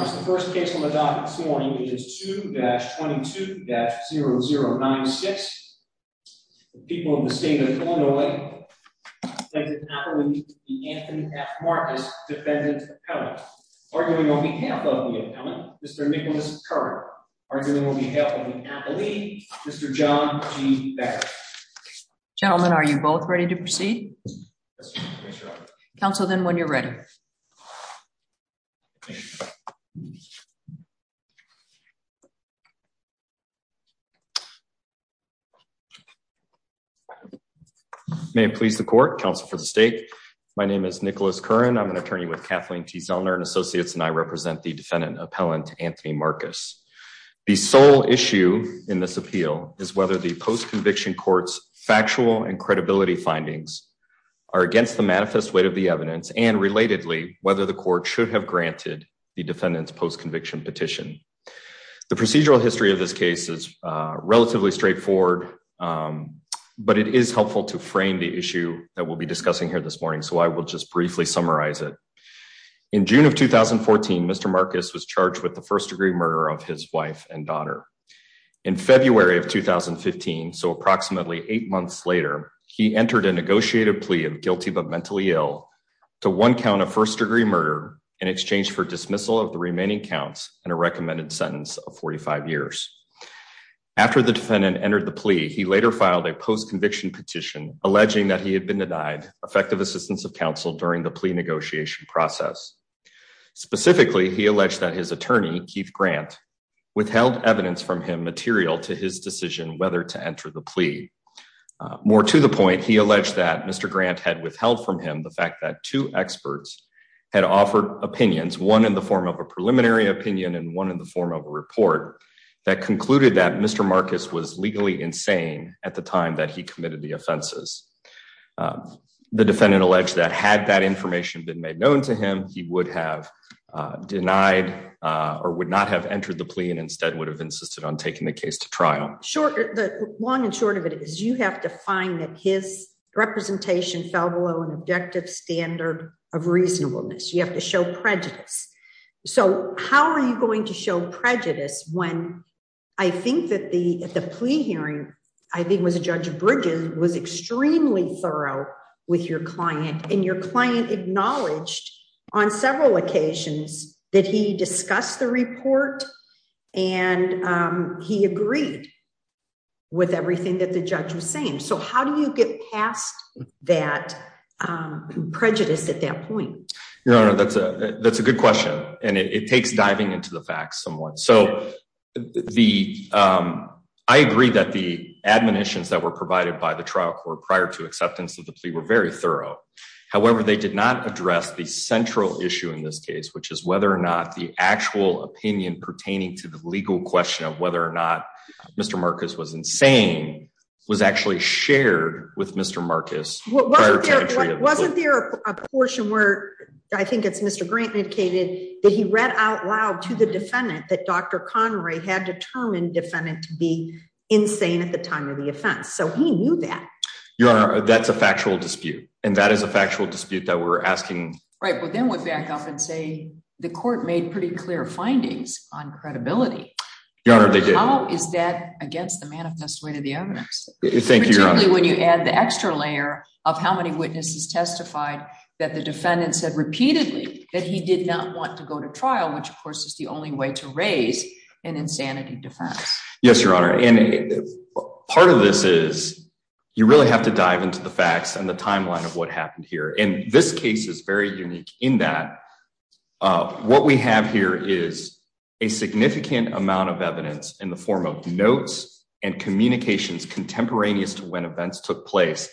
The first case on the document this morning is 2-22-0096, the people of the state of Illinois, defendant Appali, the Anthony F. Marcus defendant appellant, arguing on behalf of the appellant, Mr. Nicholas Curran, arguing on behalf of the appellee, Mr. John G. Becker. Gentlemen, are you both ready to proceed? Yes, ma'am. Council, then, when you're ready. Okay. May it please the court, counsel for the state. My name is Nicholas Curran. I'm an attorney with Kathleen T. Zellner and Associates and I represent the defendant appellant, Anthony Marcus. The sole issue in this appeal is whether the post-conviction court's factual and credibility findings are against the manifest weight of the evidence and, relatedly, whether the court should have granted the defendant's post-conviction petition. The procedural history of this case is relatively straightforward, but it is helpful to frame the issue that we'll be discussing here this morning, so I will just briefly summarize it. In June of 2014, Mr. Marcus was charged with the first-degree murder of his wife and daughter. In February of 2015, so approximately eight months later, he entered a negotiated plea of guilty but mentally ill to one count of first-degree murder in exchange for dismissal of the remaining counts and a recommended sentence of 45 years. After the defendant entered the plea, he later filed a post-conviction petition alleging that he had been denied effective assistance of counsel during the plea negotiation process. Specifically, he alleged that his attorney, Keith Grant, withheld evidence from him material to his decision whether to enter the plea. More to the point, he alleged that Mr. Grant had withheld from him the fact that two experts had offered opinions, one in the form of a preliminary opinion and one in the form of a report, that concluded that Mr. Marcus was legally insane at the time that he committed the offenses. The defendant alleged that had that information been made known to him, he would have denied or would not have entered the plea and instead would have insisted on taking the case to trial. The long and short of it is you have to find that his representation fell below an objective standard of reasonableness. You have to show prejudice. So how are you going to show prejudice when I think that the plea hearing, I think it was Judge Bridges, was extremely thorough with your client and your client acknowledged on several occasions that he discussed the report and he agreed with everything that the judge was saying. So how do you get past that prejudice at that point? Your Honor, that's a good question and it takes diving into the facts somewhat. So I agree that the admonitions that were provided by the trial court prior to acceptance of the plea were very thorough. However, they did not address the central issue in this case, which is whether or not the actual opinion pertaining to the legal question of whether or not Mr. Marcus was insane was actually shared with Mr. Marcus prior to entry of the plea. Wasn't there a portion where, I think it's Mr. Grant indicated, that he read out loud to the defendant that Dr. Connery had determined defendant to be insane at the time of the offense? So he knew that. Your Honor, that's a factual dispute and that is a factual dispute that we're asking. Right, but then we back up and say the court made pretty clear findings on credibility. Your Honor, they did. How is that against the manifest way to the evidence? Thank you, Your Honor. Particularly when you add the extra layer of how many witnesses testified that the defendant said repeatedly that he did not want to go to trial, which of course is the only way to raise an insanity defense. Yes, Your Honor. Part of this is you really have to dive into the facts and the timeline of what happened here. And this case is very unique in that what we have here is a significant amount of evidence in the form of notes and communications contemporaneous to when events took place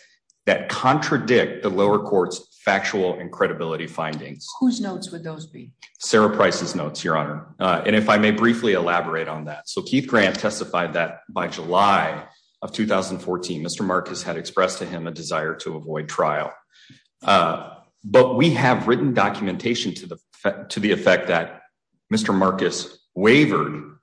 that contradict the lower courts, factual and credibility findings. Whose notes would those be? Sarah Price's notes, Your Honor. And if I may briefly elaborate on that. So Keith Grant testified that by July of 2014, Mr. Marcus had expressed to him a desire to avoid trial. But we have written documentation to the to the effect that Mr. Marcus wavered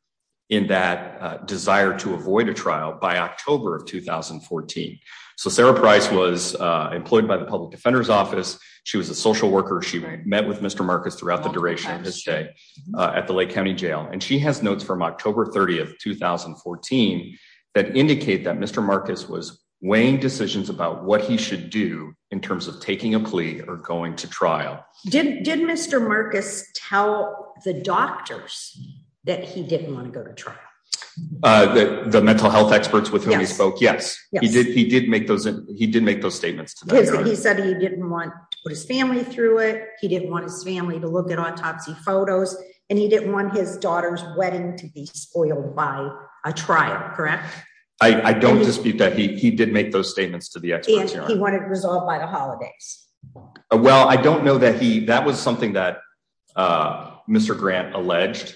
in that desire to avoid a trial by October of 2014. So Sarah Price was employed by the Public Defender's Office. She was a social worker. She met with Mr. Marcus throughout the duration of his stay at the Lake County Jail. And she has notes from October 30 of 2014 that indicate that Mr. Marcus was weighing decisions about what he should do in terms of taking a plea or going to trial. Did Mr. Marcus tell the doctors that he didn't want to go to trial? The mental health experts with whom he spoke? Yes, he did. He did make those. He did make those statements. He said he didn't want his family through it. He didn't want his family to look at autopsy photos and he didn't want his daughter's wedding to be spoiled by a trial. Correct. I don't dispute that. He did make those statements to the experts. He wanted resolved by the holidays. Well, I don't know that he that was something that Mr. Grant alleged.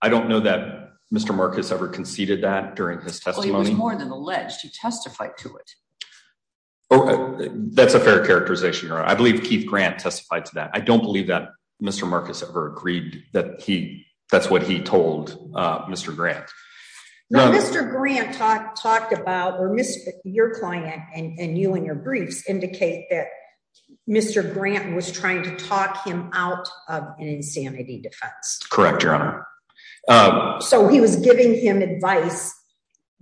I don't know that Mr. Marcus ever conceded that during his testimony. He was more than alleged. He testified to it. That's a fair characterization. I believe Keith Grant testified to that. I don't believe that Mr. Marcus ever agreed that he that's what he told Mr. Grant. Mr. Grant talked talked about or Mr. Your client and you and your briefs indicate that Mr. Grant was trying to talk him out of an insanity defense. Correct, Your Honor. So he was giving him advice.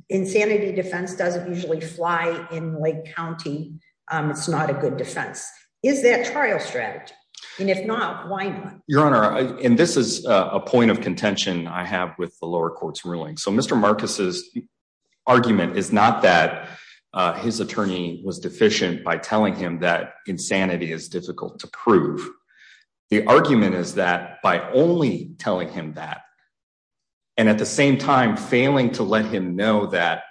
Insanity defense doesn't usually fly in Lake County. It's not a good defense. Is that trial strategy? And if not, why not, Your Honor? And this is a point of contention I have with the lower courts ruling. So Mr. Marcus's argument is not that his attorney was deficient by telling him that insanity is difficult to prove. The argument is that by only telling him that. And at the same time, failing to let him know that.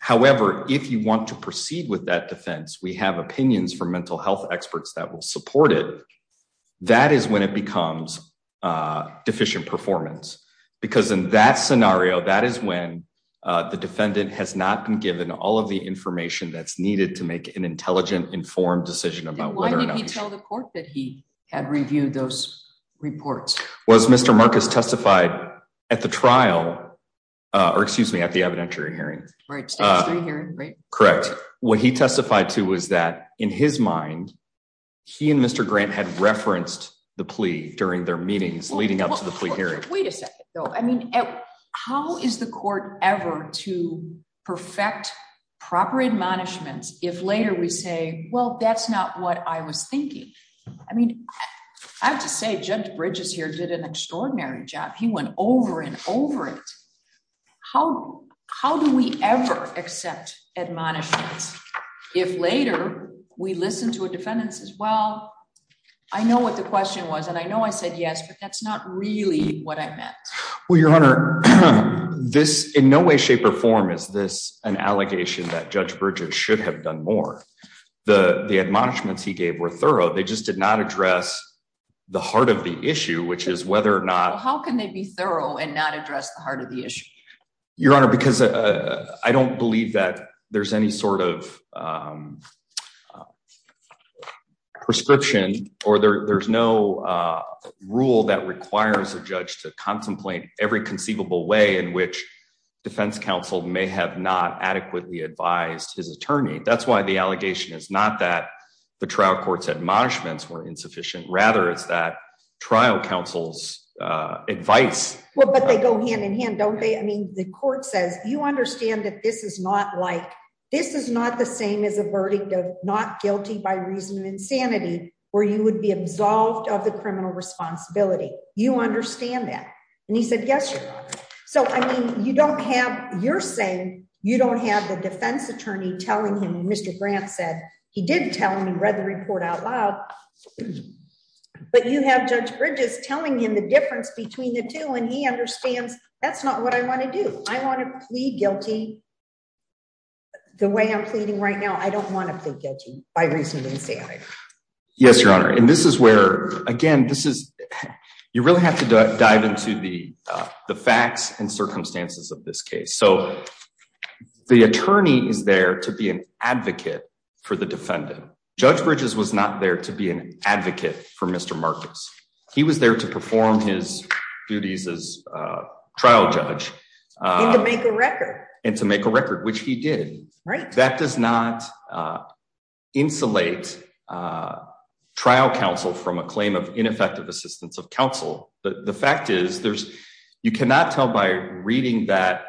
However, if you want to proceed with that defense, we have opinions for mental health experts that will support it. That is when it becomes deficient performance, because in that scenario, that is when the defendant has not been given all of the information that's needed to make an intelligent, informed decision about whether or not. Why didn't he tell the court that he had reviewed those reports? Was Mr. Marcus testified at the trial or excuse me at the evidentiary hearing? Right. Correct. What he testified to was that in his mind, he and Mr. Grant had referenced the plea during their meetings leading up to the plea hearing. Wait a second, though. I mean, how is the court ever to perfect proper admonishments if later we say, well, that's not what I was thinking? I mean, I have to say, Judge Bridges here did an extraordinary job. He went over and over it. How do we ever accept admonishments if later we listen to a defendants as well? I know what the question was, and I know I said yes, but that's not really what I meant. Well, Your Honor, this in no way, shape or form. Is this an allegation that Judge Bridges should have done more? The admonishments he gave were thorough. They just did not address the heart of the issue, which is whether or not. How can they be thorough and not address the heart of the issue? Your Honor, because I don't believe that there's any sort of prescription or there's no rule that requires a judge to contemplate every conceivable way in which defense counsel may have not adequately advised his attorney. That's why the allegation is not that the trial courts admonishments were insufficient. Rather, it's that trial counsel's advice. Well, but they go hand in hand, don't they? I mean, the court says you understand that this is not like this is not the same as a verdict of not guilty by reason of insanity where you would be absolved of the criminal responsibility. You understand that? And he said, yes. So I mean, you don't have you're saying you don't have the defense attorney telling him. Mr. Grant said he did tell me read the report out loud. But you have Judge Bridges telling him the difference between the two. And he understands that's not what I want to do. I want to plead guilty. The way I'm pleading right now. I don't want to get you by reason of insanity. Yes, Your Honor. And this is where, again, this is you really have to dive into the facts and circumstances of this case. So the attorney is there to be an advocate for the defendant. Judge Bridges was not there to be an advocate for Mr. Marcus. He was there to perform his duties as trial judge and to make a record, which he did. That does not insulate trial counsel from a claim of ineffective assistance of counsel. The fact is, there's you cannot tell by reading that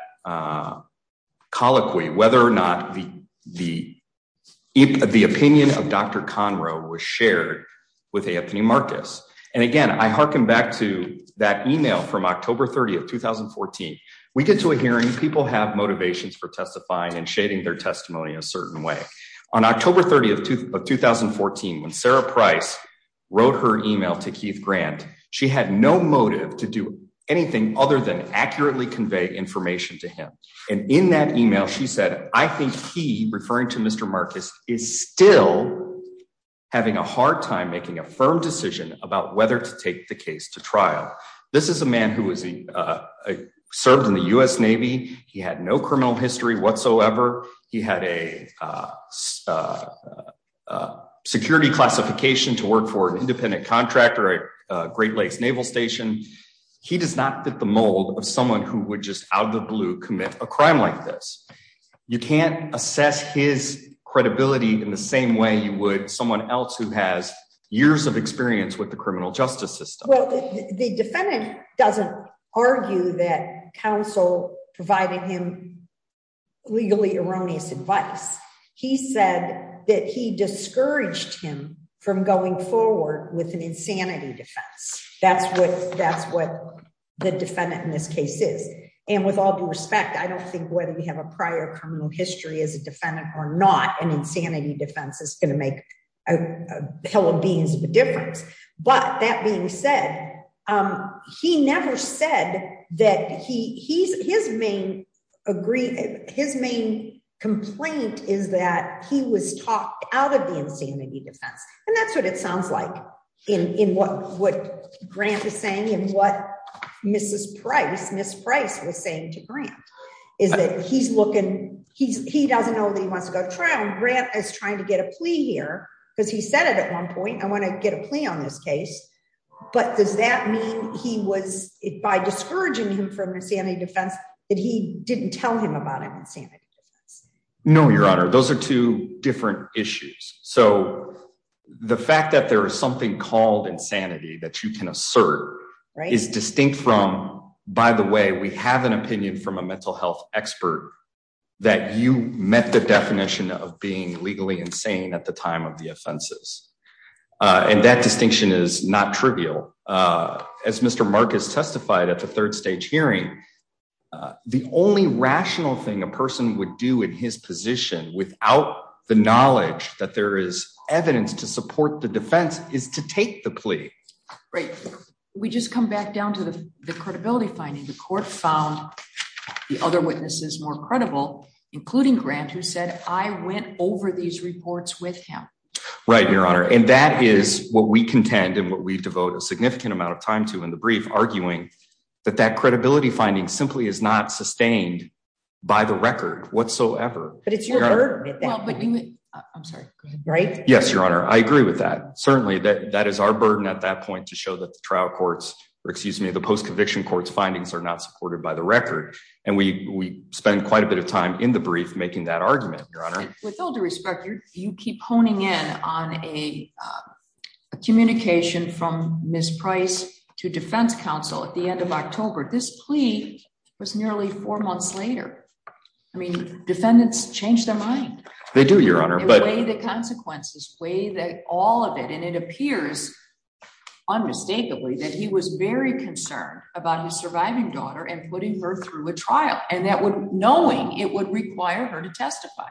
colloquy whether or not the the the opinion of Dr. Conroe was shared with Anthony Marcus. And again, I hearken back to that email from October 30 of 2014. We get to a hearing. People have motivations for testifying and shading their testimony a certain way. On October 30 of 2014, when Sarah Price wrote her email to Keith Grant, she had no motive to do anything other than accurately convey information to him. And in that email, she said, I think he referring to Mr. Marcus is still having a hard time making a firm decision about whether to take the case to trial. This is a man who was served in the U.S. Navy. He had no criminal history whatsoever. He had a security classification to work for an independent contractor, Great Lakes Naval Station. He does not fit the mold of someone who would just out of the blue commit a crime like this. You can't assess his credibility in the same way you would someone else who has years of experience with the criminal justice system. Well, the defendant doesn't argue that counsel provided him legally erroneous advice. He said that he discouraged him from going forward with an insanity defense. That's what that's what the defendant in this case is. And with all due respect, I don't think whether we have a prior criminal history as a defendant or not, an insanity defense is going to make a hell of a difference. But that being said, he never said that he he's his main agree. His main complaint is that he was talked out of the insanity defense. And that's what it sounds like in what what Grant is saying and what Mrs. Price was saying to Grant is that he's looking he's he doesn't know that he wants to go to trial. Grant is trying to get a plea here because he said it at one point. I want to get a plea on this case. But does that mean he was by discouraging him from insanity defense that he didn't tell him about insanity? No, Your Honor. Those are two different issues. So the fact that there is something called insanity that you can assert is distinct from, by the way, we have an opinion from a mental health expert that you met the definition of being legally insane at the time of the offenses. And that distinction is not trivial. As Mr. Marcus testified at the third stage hearing, the only rational thing a person would do in his position without the knowledge that there is evidence to support the defense is to take the plea. Right. We just come back down to the credibility finding the court found the other witnesses more credible, including Grant, who said, I went over these reports with him. Right, Your Honor. And that is what we contend and what we devote a significant amount of time to in the brief arguing that that credibility finding simply is not sustained by the record whatsoever. But it's your. I'm sorry. Right. Yes, Your Honor. I agree with that. Certainly that that is our burden at that point to show that the trial courts, or excuse me the post conviction courts findings are not supported by the record. And we spend quite a bit of time in the brief making that argument, Your Honor. With all due respect, you keep honing in on a communication from Miss Price to defense counsel at the end of October this plea was nearly four months later. I mean, defendants change their mind. They do, Your Honor, but the consequences way that all of it and it appears unmistakably that he was very concerned about his surviving daughter and putting her through a trial, and that would knowing it would require her to testify.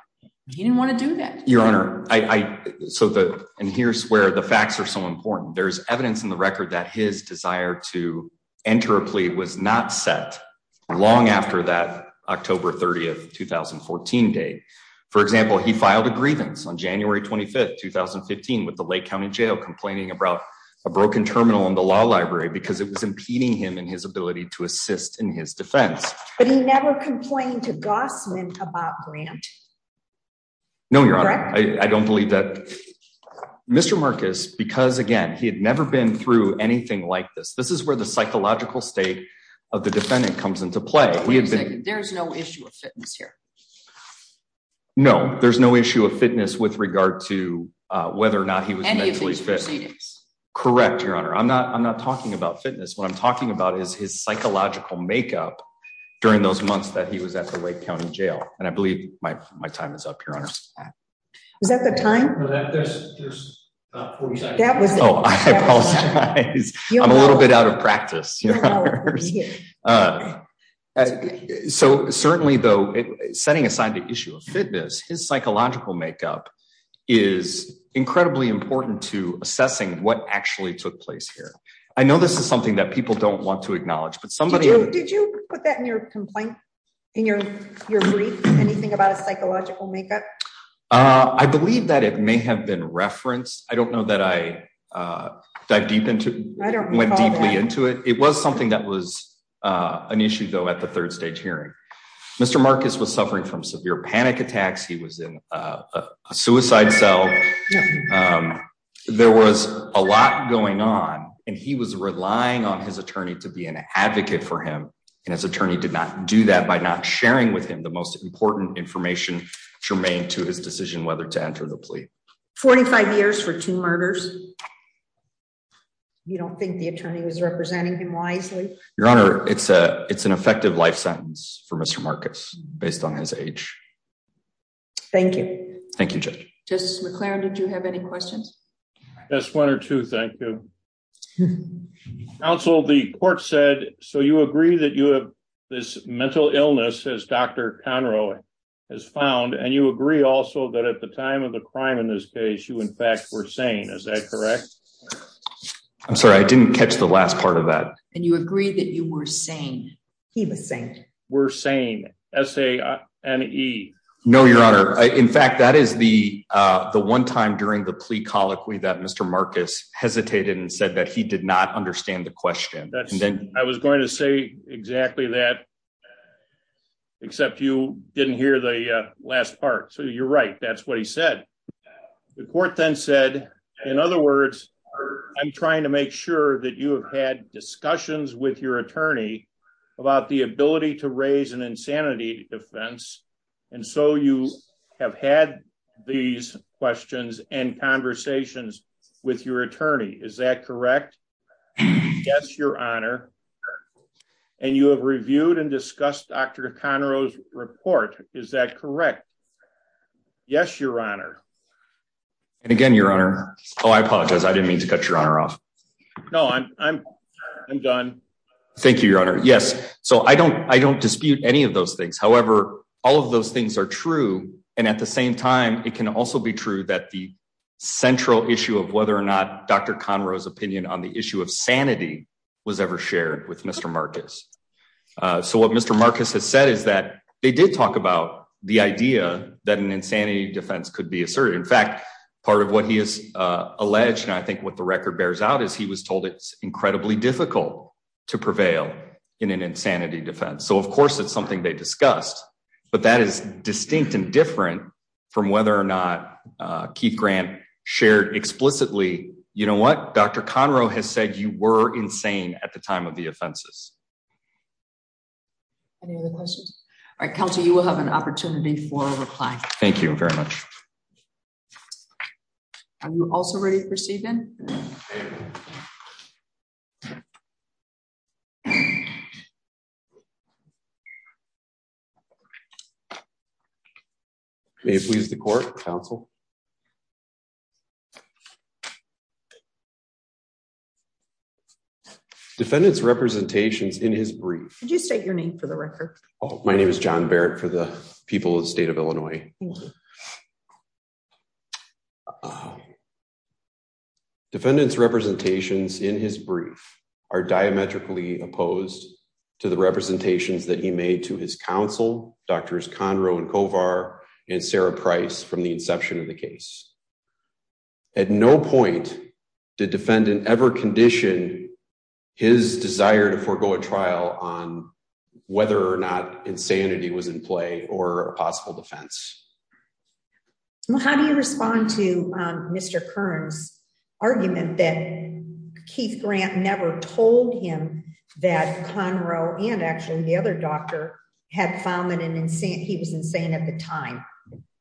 He didn't want to do that, Your Honor, I, so the, and here's where the facts are so important there's evidence in the record that his desire to enter a plea was not set. Long after that, October 30 2014 day. For example, he filed a grievance on January 25 2015 with the Lake County Jail complaining about a broken terminal in the law library because it was impeding him and his ability to assist in his defense, but he never complained about grant. No, Your Honor, I don't believe that. Mr Marcus because again he had never been through anything like this, this is where the psychological state of the defendant comes into play, we have been there's no issue of fitness here. No, there's no issue of fitness with regard to whether or not he was mentally fit. Correct, Your Honor, I'm not I'm not talking about fitness what I'm talking about is his psychological makeup. During those months that he was at the Lake County Jail, and I believe my, my time is up here. Is that the time that was a little bit out of practice. So, certainly though, setting aside the issue of fitness his psychological makeup is incredibly important to assessing what actually took place here. I know this is something that people don't want to acknowledge but somebody did you put that in your complaint in your, your brief anything about a psychological makeup. I believe that it may have been referenced, I don't know that I dive deep into went deeply into it, it was something that was an issue though at the third stage hearing. Mr Marcus was suffering from severe panic attacks he was in a suicide cell. There was a lot going on, and he was relying on his attorney to be an advocate for him, and his attorney did not do that by not sharing with him the most important information remain to his decision whether to enter the plea 45 years for two murders. You don't think the attorney was representing him wisely. Your Honor, it's a, it's an effective life sentence for Mr Marcus, based on his age. Thank you. Thank you. Just McLaren did you have any questions. That's one or two. Thank you. Also the court said, so you agree that you have this mental illness as Dr. Conroe has found and you agree also that at the time of the crime in this case you in fact we're saying is that correct. I'm sorry I didn't catch the last part of that, and you agree that you were saying he was saying, we're saying, as a me. No, Your Honor. In fact, that is the, the one time during the plea colloquy that Mr Marcus hesitated and said that he did not understand the question, and then I was going to say exactly that. Except you didn't hear the last part so you're right that's what he said. The court then said, in other words, I'm trying to make sure that you have had discussions with your attorney about the ability to raise an insanity defense. And so you have had these questions and conversations with your attorney, is that correct. Yes, Your Honor. And you have reviewed and discussed Dr. Conroe's report, is that correct. Yes, Your Honor. And again, Your Honor. Oh, I apologize I didn't mean to cut your honor off. No, I'm, I'm done. Thank you, Your Honor. Yes, so I don't I don't dispute any of those things. However, all of those things are true. And at the same time, it can also be true that the central issue of whether or not Dr Conroe's opinion on the issue of sanity was ever shared with Mr Marcus. So what Mr Marcus has said is that they did talk about the idea that an insanity defense could be asserted in fact, part of what he is alleged and I think what the record bears out is he was told it's incredibly difficult to prevail in an insanity defense so of course it's something they discussed, but that is distinct and different from whether or not Keith grant shared explicitly, you know what Dr Conroe has said you were insane at the time of the offenses. Any other questions. I counted you will have an opportunity for reply. Thank you very much. Are you also ready to proceed then. Please the court counsel defendants representations in his brief, did you state your name for the record. Oh, my name is john Barrett for the people of the state of Illinois. Defendants representations in his brief are diametrically opposed to the representations that he made to his counsel, Drs Conroe and Kovar and Sarah price from the inception of the case. At no point, the defendant ever condition, his desire to forego a trial on whether or not insanity was in play, or possible defense. How do you respond to Mr Kearns argument that Keith grant never told him that Conroe and actually the other doctor had found that an insane he was insane at the time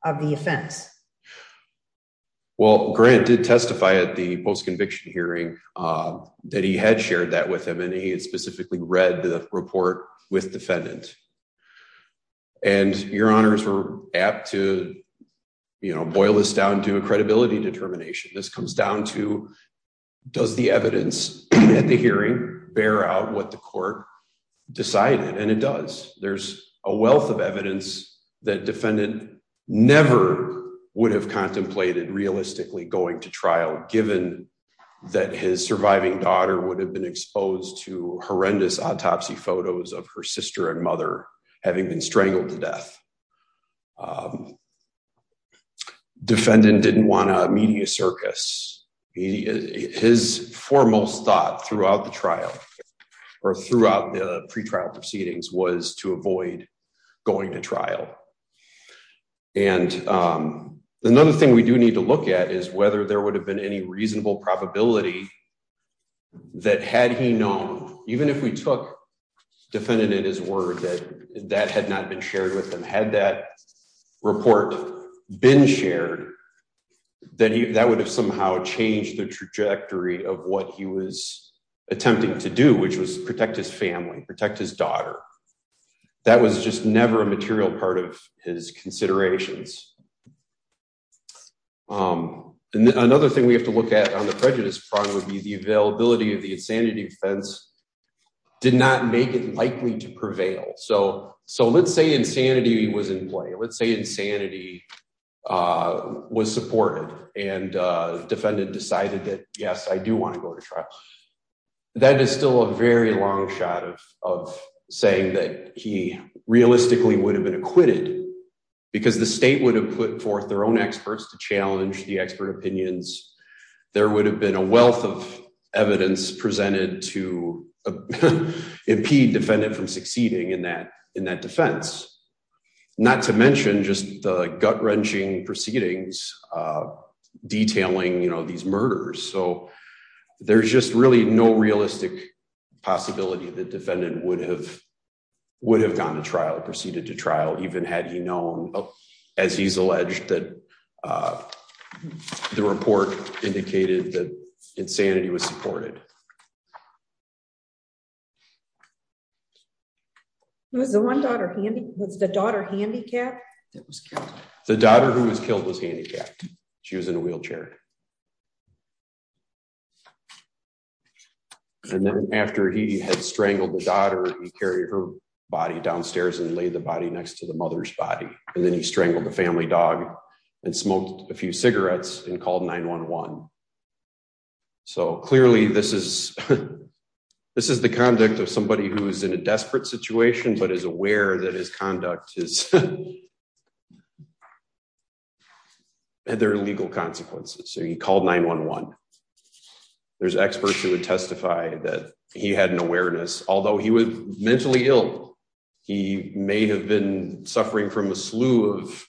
of the offense. Well granted testify at the post conviction hearing that he had shared that with him and he had specifically read the report with defendant. And your honors were apt to, you know, boil this down to a credibility determination this comes down to, does the evidence at the hearing, bear out what the court decided and it does, there's a wealth of evidence that defendant, never would have contemplated realistically going to trial, given that his surviving daughter would have been exposed to horrendous autopsy photos of her sister and mother, having been strangled to death defendant didn't want to media circus. He is his foremost thought throughout the trial, or throughout the pre trial proceedings was to avoid going to trial. And another thing we do need to look at is whether there would have been any reasonable probability that had he known, even if we took defendant in his word that that had not been shared with them had that report been shared that he that would And that is just never a material part of his considerations. And another thing we have to look at on the prejudice front would be the availability of the insanity defense did not make it likely to prevail so so let's say insanity was in play let's say insanity was supported and defendant decided that, yes, I do want to go to trial. That is still a very long shot of saying that he realistically would have been acquitted, because the state would have put forth their own experts to challenge the expert opinions, there would have been a wealth of evidence presented to impede defendant from succeeding in that, in that defense, not to mention just the gut wrenching proceedings, detailing you know these murders so there's just really no realistic possibility that defendant would have would have gone to trial proceeded to trial even had he known, as he's alleged that the report indicated that insanity was supported was the one daughter handy was the daughter handicap. The daughter who was killed was handicapped. She was in a wheelchair. And then after he had strangled the daughter, carry her body downstairs and lay the body next to the mother's body, and then he strangled the family dog and smoked a few cigarettes and called 911. So clearly this is, this is the conduct of somebody who is in a desperate situation but is aware that his conduct is had their legal consequences so he called 911. There's experts who would testify that he had an awareness, although he was mentally ill. He may have been suffering from a slew of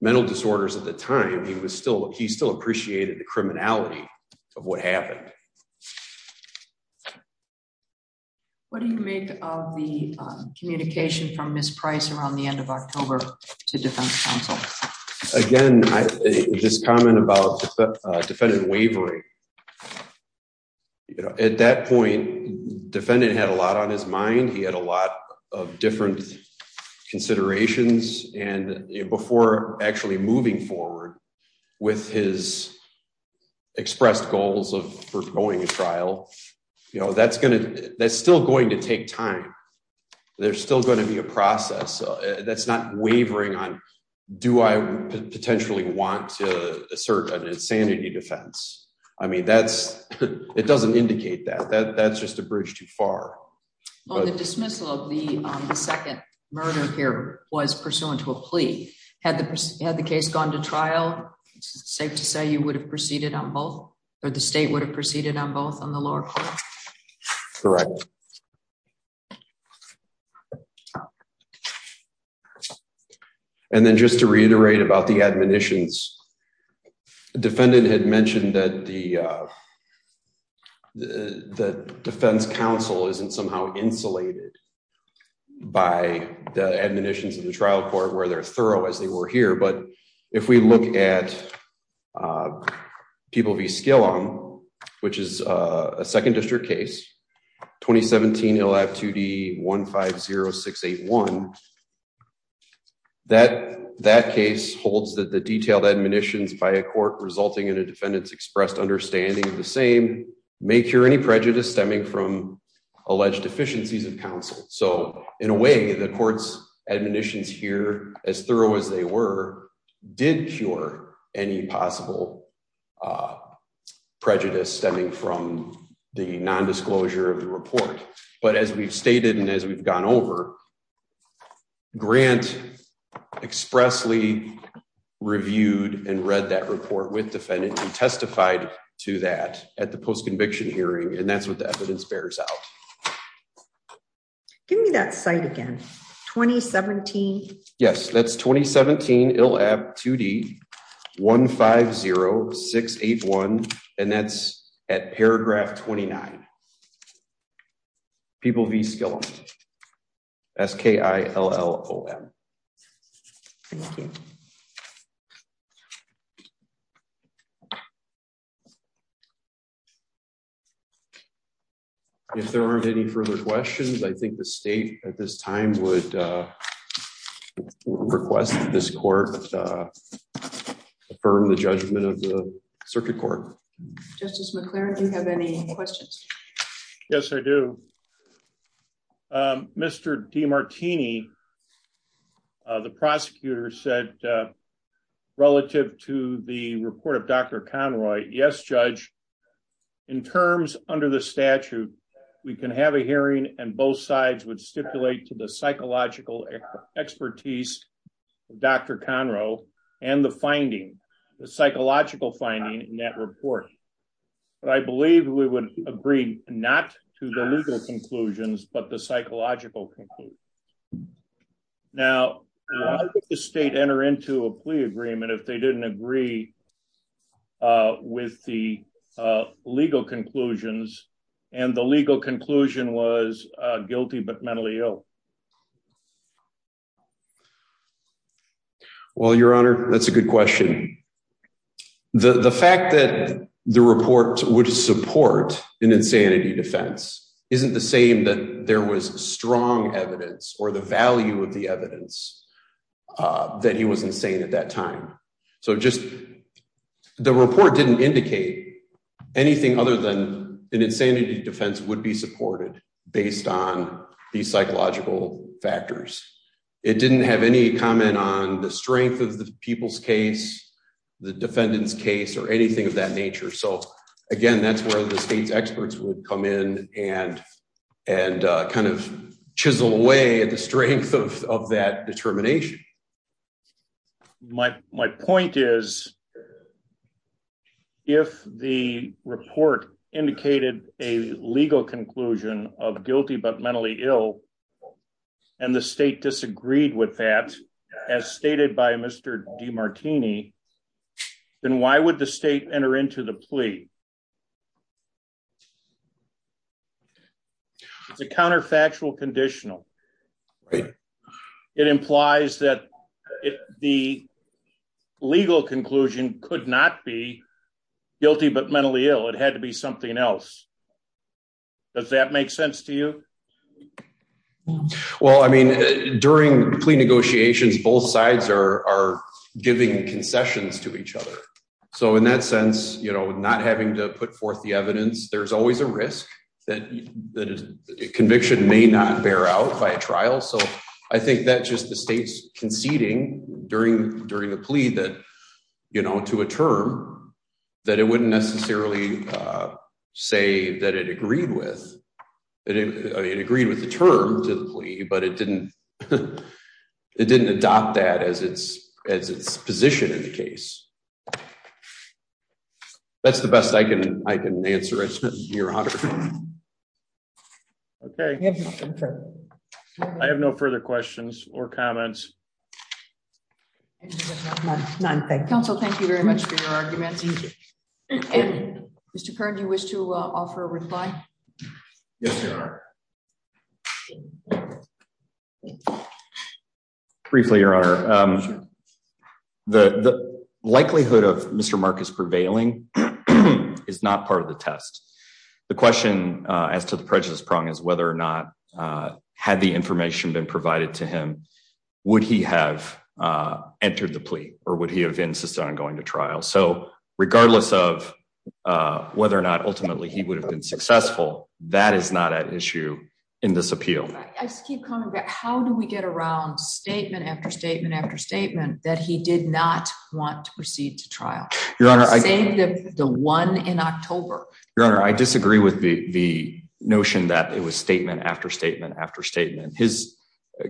mental disorders at the time he was still he still appreciated the criminality of what happened. What do you make of the communication from Miss price around the end of October, to defense counsel. Again, just comment about the defendant wavering. At that point, defendant had a lot on his mind he had a lot of different considerations, and before actually moving forward with his expressed goals of going to trial, you know that's going to that's still going to take time. There's still going to be a process that's not wavering on. Do I potentially want to assert an insanity defense. I mean that's, it doesn't indicate that that that's just a bridge too far. The dismissal of the second murder here was pursuant to a plea had the had the case gone to trial, safe to say you would have proceeded on both, or the state would have proceeded on both on the lower. Correct. And then just to reiterate about the admonitions. Defendant had mentioned that the, the defense counsel isn't somehow insulated by the admonitions of the trial court where they're thorough as they were here but if we look at people be skill on, which is a second district case 2017 he'll have to be 150681. That that case holds that the detailed admonitions by a court resulting in a defendant's expressed understanding of the same may cure any prejudice stemming from alleged deficiencies of counsel. So, in a way, the courts admonitions here as thorough as they were did cure any possible prejudice stemming from the non disclosure of the report. But as we've stated and as we've gone over grant expressly reviewed and read that report with defendant and testified to that at the post conviction hearing and that's what the evidence bears out. Give me that site again. 2017. Yes, that's 2017 it'll have to be 150681, and that's at paragraph 29. People be skill. SK I ll. Thank you. If there aren't any further questions I think the state at this time would request this court. Affirm the judgment of the circuit court. Just as we're clear if you have any questions. Yes, I do. Mr. D martini. The prosecutor said, relative to the report of Dr. Conroy Yes judge in terms under the statute, we can have a hearing and both sides would stipulate to the psychological expertise. Dr Conroe, and the finding the psychological finding that report. But I believe we would agree, not to the legal conclusions but the psychological conclude. Now, the state enter into a plea agreement if they didn't agree with the legal conclusions, and the legal conclusion was guilty but mentally ill. Well, Your Honor, that's a good question. The fact that the report would support an insanity defense isn't the same that there was strong evidence or the value of the evidence that he wasn't saying at that time. So just the report didn't indicate anything other than an insanity defense would be supported, based on the psychological factors. It didn't have any comment on the strength of the people's case. The defendant's case or anything of that nature. So, again, that's where the state's experts would come in and and kind of chisel away at the strength of that determination. My, my point is, if the report indicated a legal conclusion of guilty but mentally ill. And the state disagreed with that, as stated by Mr. D martini. Then why would the state enter into the plea. The counterfactual conditional. It implies that the legal conclusion could not be guilty but mentally ill it had to be something else. Does that make sense to you. Well, I mean, during plea negotiations both sides are giving concessions to each other. So in that sense, you know, not having to put forth the evidence there's always a risk that conviction may not bear out by a trial so I think that just the state's conceding during, during the plea that, you know, to a term that it wouldn't necessarily say that it agreed with. It agreed with the term to the plea but it didn't. It didn't adopt that as its as its position in the case. That's the best I can, I can answer your honor. Okay. I have no further questions or comments. None. Thank you. Thank you very much for your arguments. Mr current you wish to offer a reply. Yes, sir. Briefly your honor. The likelihood of Mr Marcus prevailing is not part of the test. The question as to the prejudice prong is whether or not had the information been provided to him. Would he have entered the plea, or would he have insisted on going to trial so regardless of whether or not ultimately he would have been successful. That is not an issue in this appeal. How do we get around statement after statement after statement that he did not want to proceed to trial. The one in October, your honor I disagree with the notion that it was statement after statement after statement his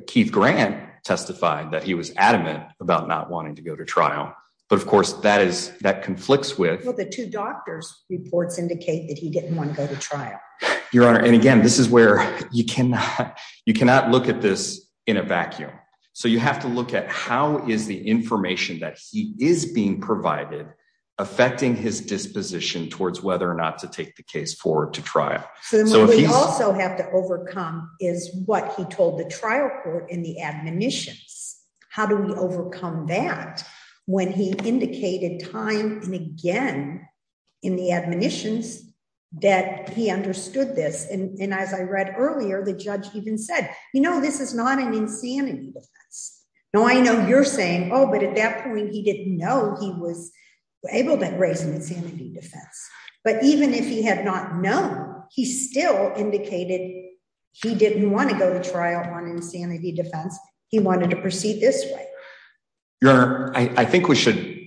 Keith grant testified that he was adamant about not wanting to go to trial. But of course that is that conflicts with the two doctors reports indicate that he didn't want to go to trial, your honor and again this is where you cannot, you cannot look at this in a vacuum. So you have to look at how is the information that he is being provided, affecting his disposition towards whether or not to take the case forward to trial. So we also have to overcome is what he told the trial court in the admonitions. How do we overcome that when he indicated time, and again, in the admonitions that he understood this and as I read earlier the judge even said, you know, this is not an insanity. Now I know you're saying, Oh, but at that point he didn't know he was able to raise an insanity defense, but even if he had not known he still indicated, he didn't want to go to trial on insanity defense, he wanted to proceed this way. Your honor, I think we should,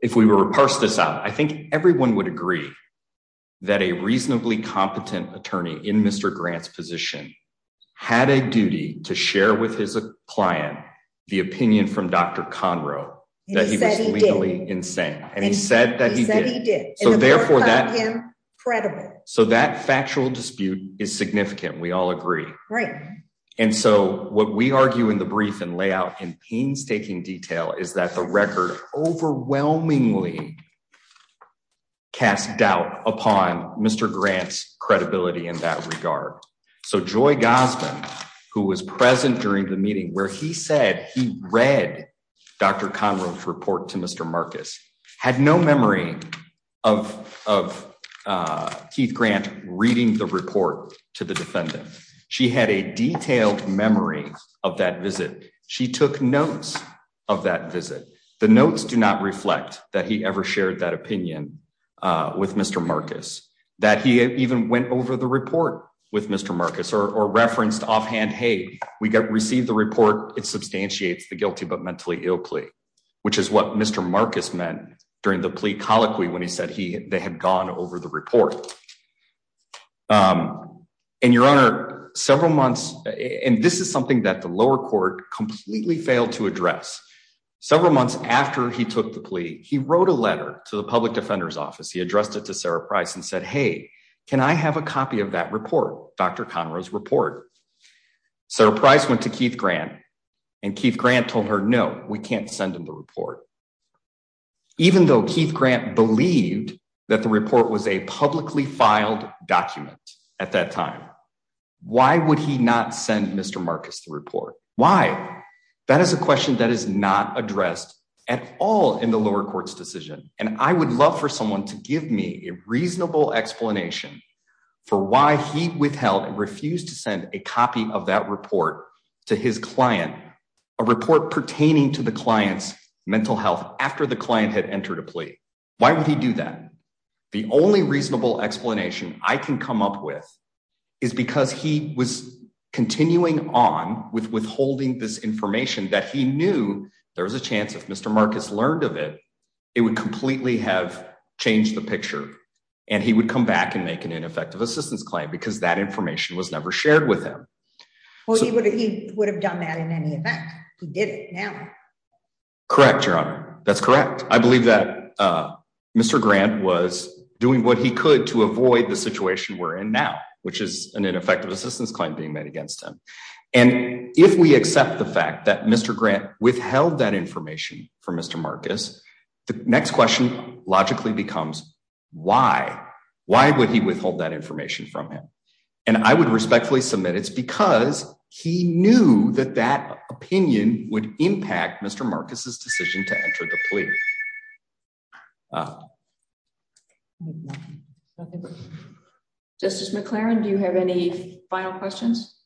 if we were to parse this out I think everyone would agree that a reasonably competent attorney in Mr grants position had a duty to share with his client, the opinion from Dr Conroe that he was legally insane, and he said that he did. So therefore that credible, so that factual dispute is significant we all agree. Right. And so what we argue in the brief and layout and painstaking detail is that the record overwhelmingly cast doubt upon Mr grants credibility in that regard. So joy Gossman, who was present during the meeting where he said he read Dr Conroe report to Mr Marcus had no memory of of Keith grant reading the report to the defendant. She had a detailed memory of that visit. She took notes of that visit, the notes do not reflect that he ever shared that opinion with Mr Marcus, that he even went over the report with Mr Marcus or referenced offhand Hey, we got received the report, it substantiates the guilty but mentally ill plea, which is what Mr Marcus meant during the plea colloquy when he said he had gone over the report. And your honor, several months, and this is something that the lower court completely failed to address. Several months after he took the plea, he wrote a letter to the public defender's office he addressed it to Sarah price and said hey, can I have a copy of that report, Dr Conroe's report. So price went to Keith grant and Keith grant told her no, we can't send them the report. Even though Keith grant believed that the report was a publicly filed document. At that time, why would he not send Mr Marcus the report, why. That is a question that is not addressed at all in the lower courts decision, and I would love for someone to give me a reasonable explanation for why he withheld refused to send a copy of that report to his client, a report pertaining to the clients, mental health, after the client had entered a plea. Why would he do that. The only reasonable explanation, I can come up with is because he was continuing on with withholding this information that he knew there was a chance if Mr Marcus learned of it. It would completely have changed the picture, and he would come back and make an ineffective assistance claim because that information was never shared with him. He would have done that in any event, he did it now. Correct. That's correct. I believe that Mr grant was doing what he could to avoid the situation we're in now, which is an ineffective assistance claim being made against him. And if we accept the fact that Mr grant withheld that information from Mr Marcus. The next question, logically becomes, why, why would he withhold that information from him. And I would respectfully submit it's because he knew that that opinion would impact Mr Marcus's decision to enter the plea. Justice McLaren do you have any final questions.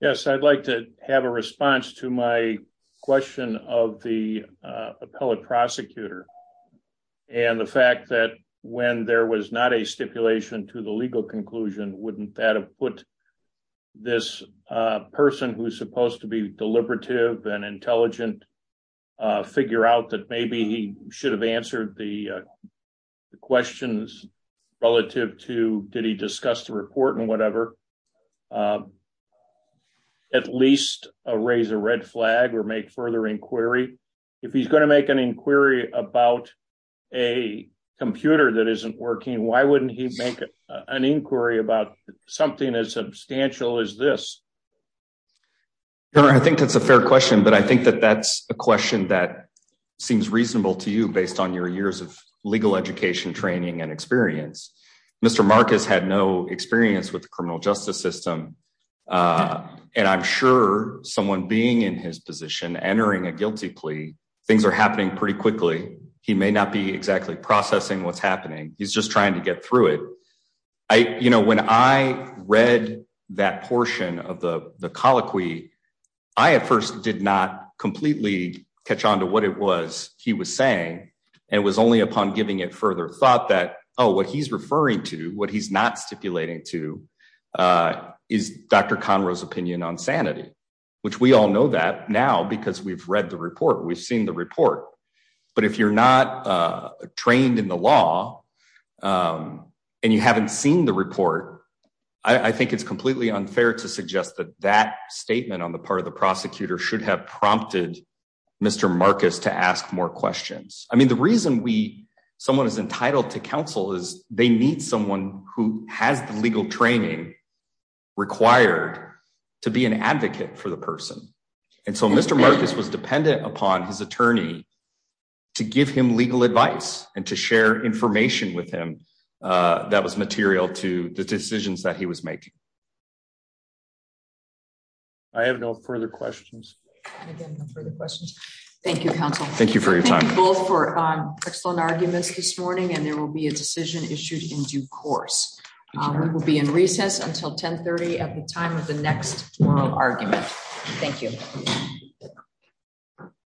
Yes, I'd like to have a response to my question of the appellate prosecutor. And the fact that when there was not a stipulation to the legal conclusion wouldn't that have put this person who's supposed to be deliberative and intelligent figure out that maybe he should have answered the questions, relative to, did he discuss the report and whatever. At least a raise a red flag or make further inquiry. If he's going to make an inquiry about a computer that isn't working, why wouldn't he make an inquiry about something as substantial as this. I think that's a fair question but I think that that's a question that seems reasonable to you based on your years of legal education training and experience. Mr Marcus had no experience with the criminal justice system. And I'm sure someone being in his position entering a guilty plea, things are happening pretty quickly. He may not be exactly processing what's happening, he's just trying to get through it. I, you know, when I read that portion of the colloquy. I at first did not completely catch on to what it was, he was saying, and was only upon giving it further thought that oh what he's referring to what he's not stipulating to is Dr Conroe's opinion on sanity, which we all know that now because we've read the report we've seen the report. I think it's completely unfair to suggest that that statement on the part of the prosecutor should have prompted Mr Marcus to ask more questions. I mean the reason we someone is entitled to counsel is they need someone who has the legal training required to be an advocate for the person. And so Mr Marcus was dependent upon his attorney to give him legal advice and to share information with him. That was material to the decisions that he was making. I have no further questions. Further questions. Thank you, counsel, thank you for your time for excellent arguments this morning and there will be a decision issued in due course, we will be in recess until 1030 at the time of the next argument. Thank you.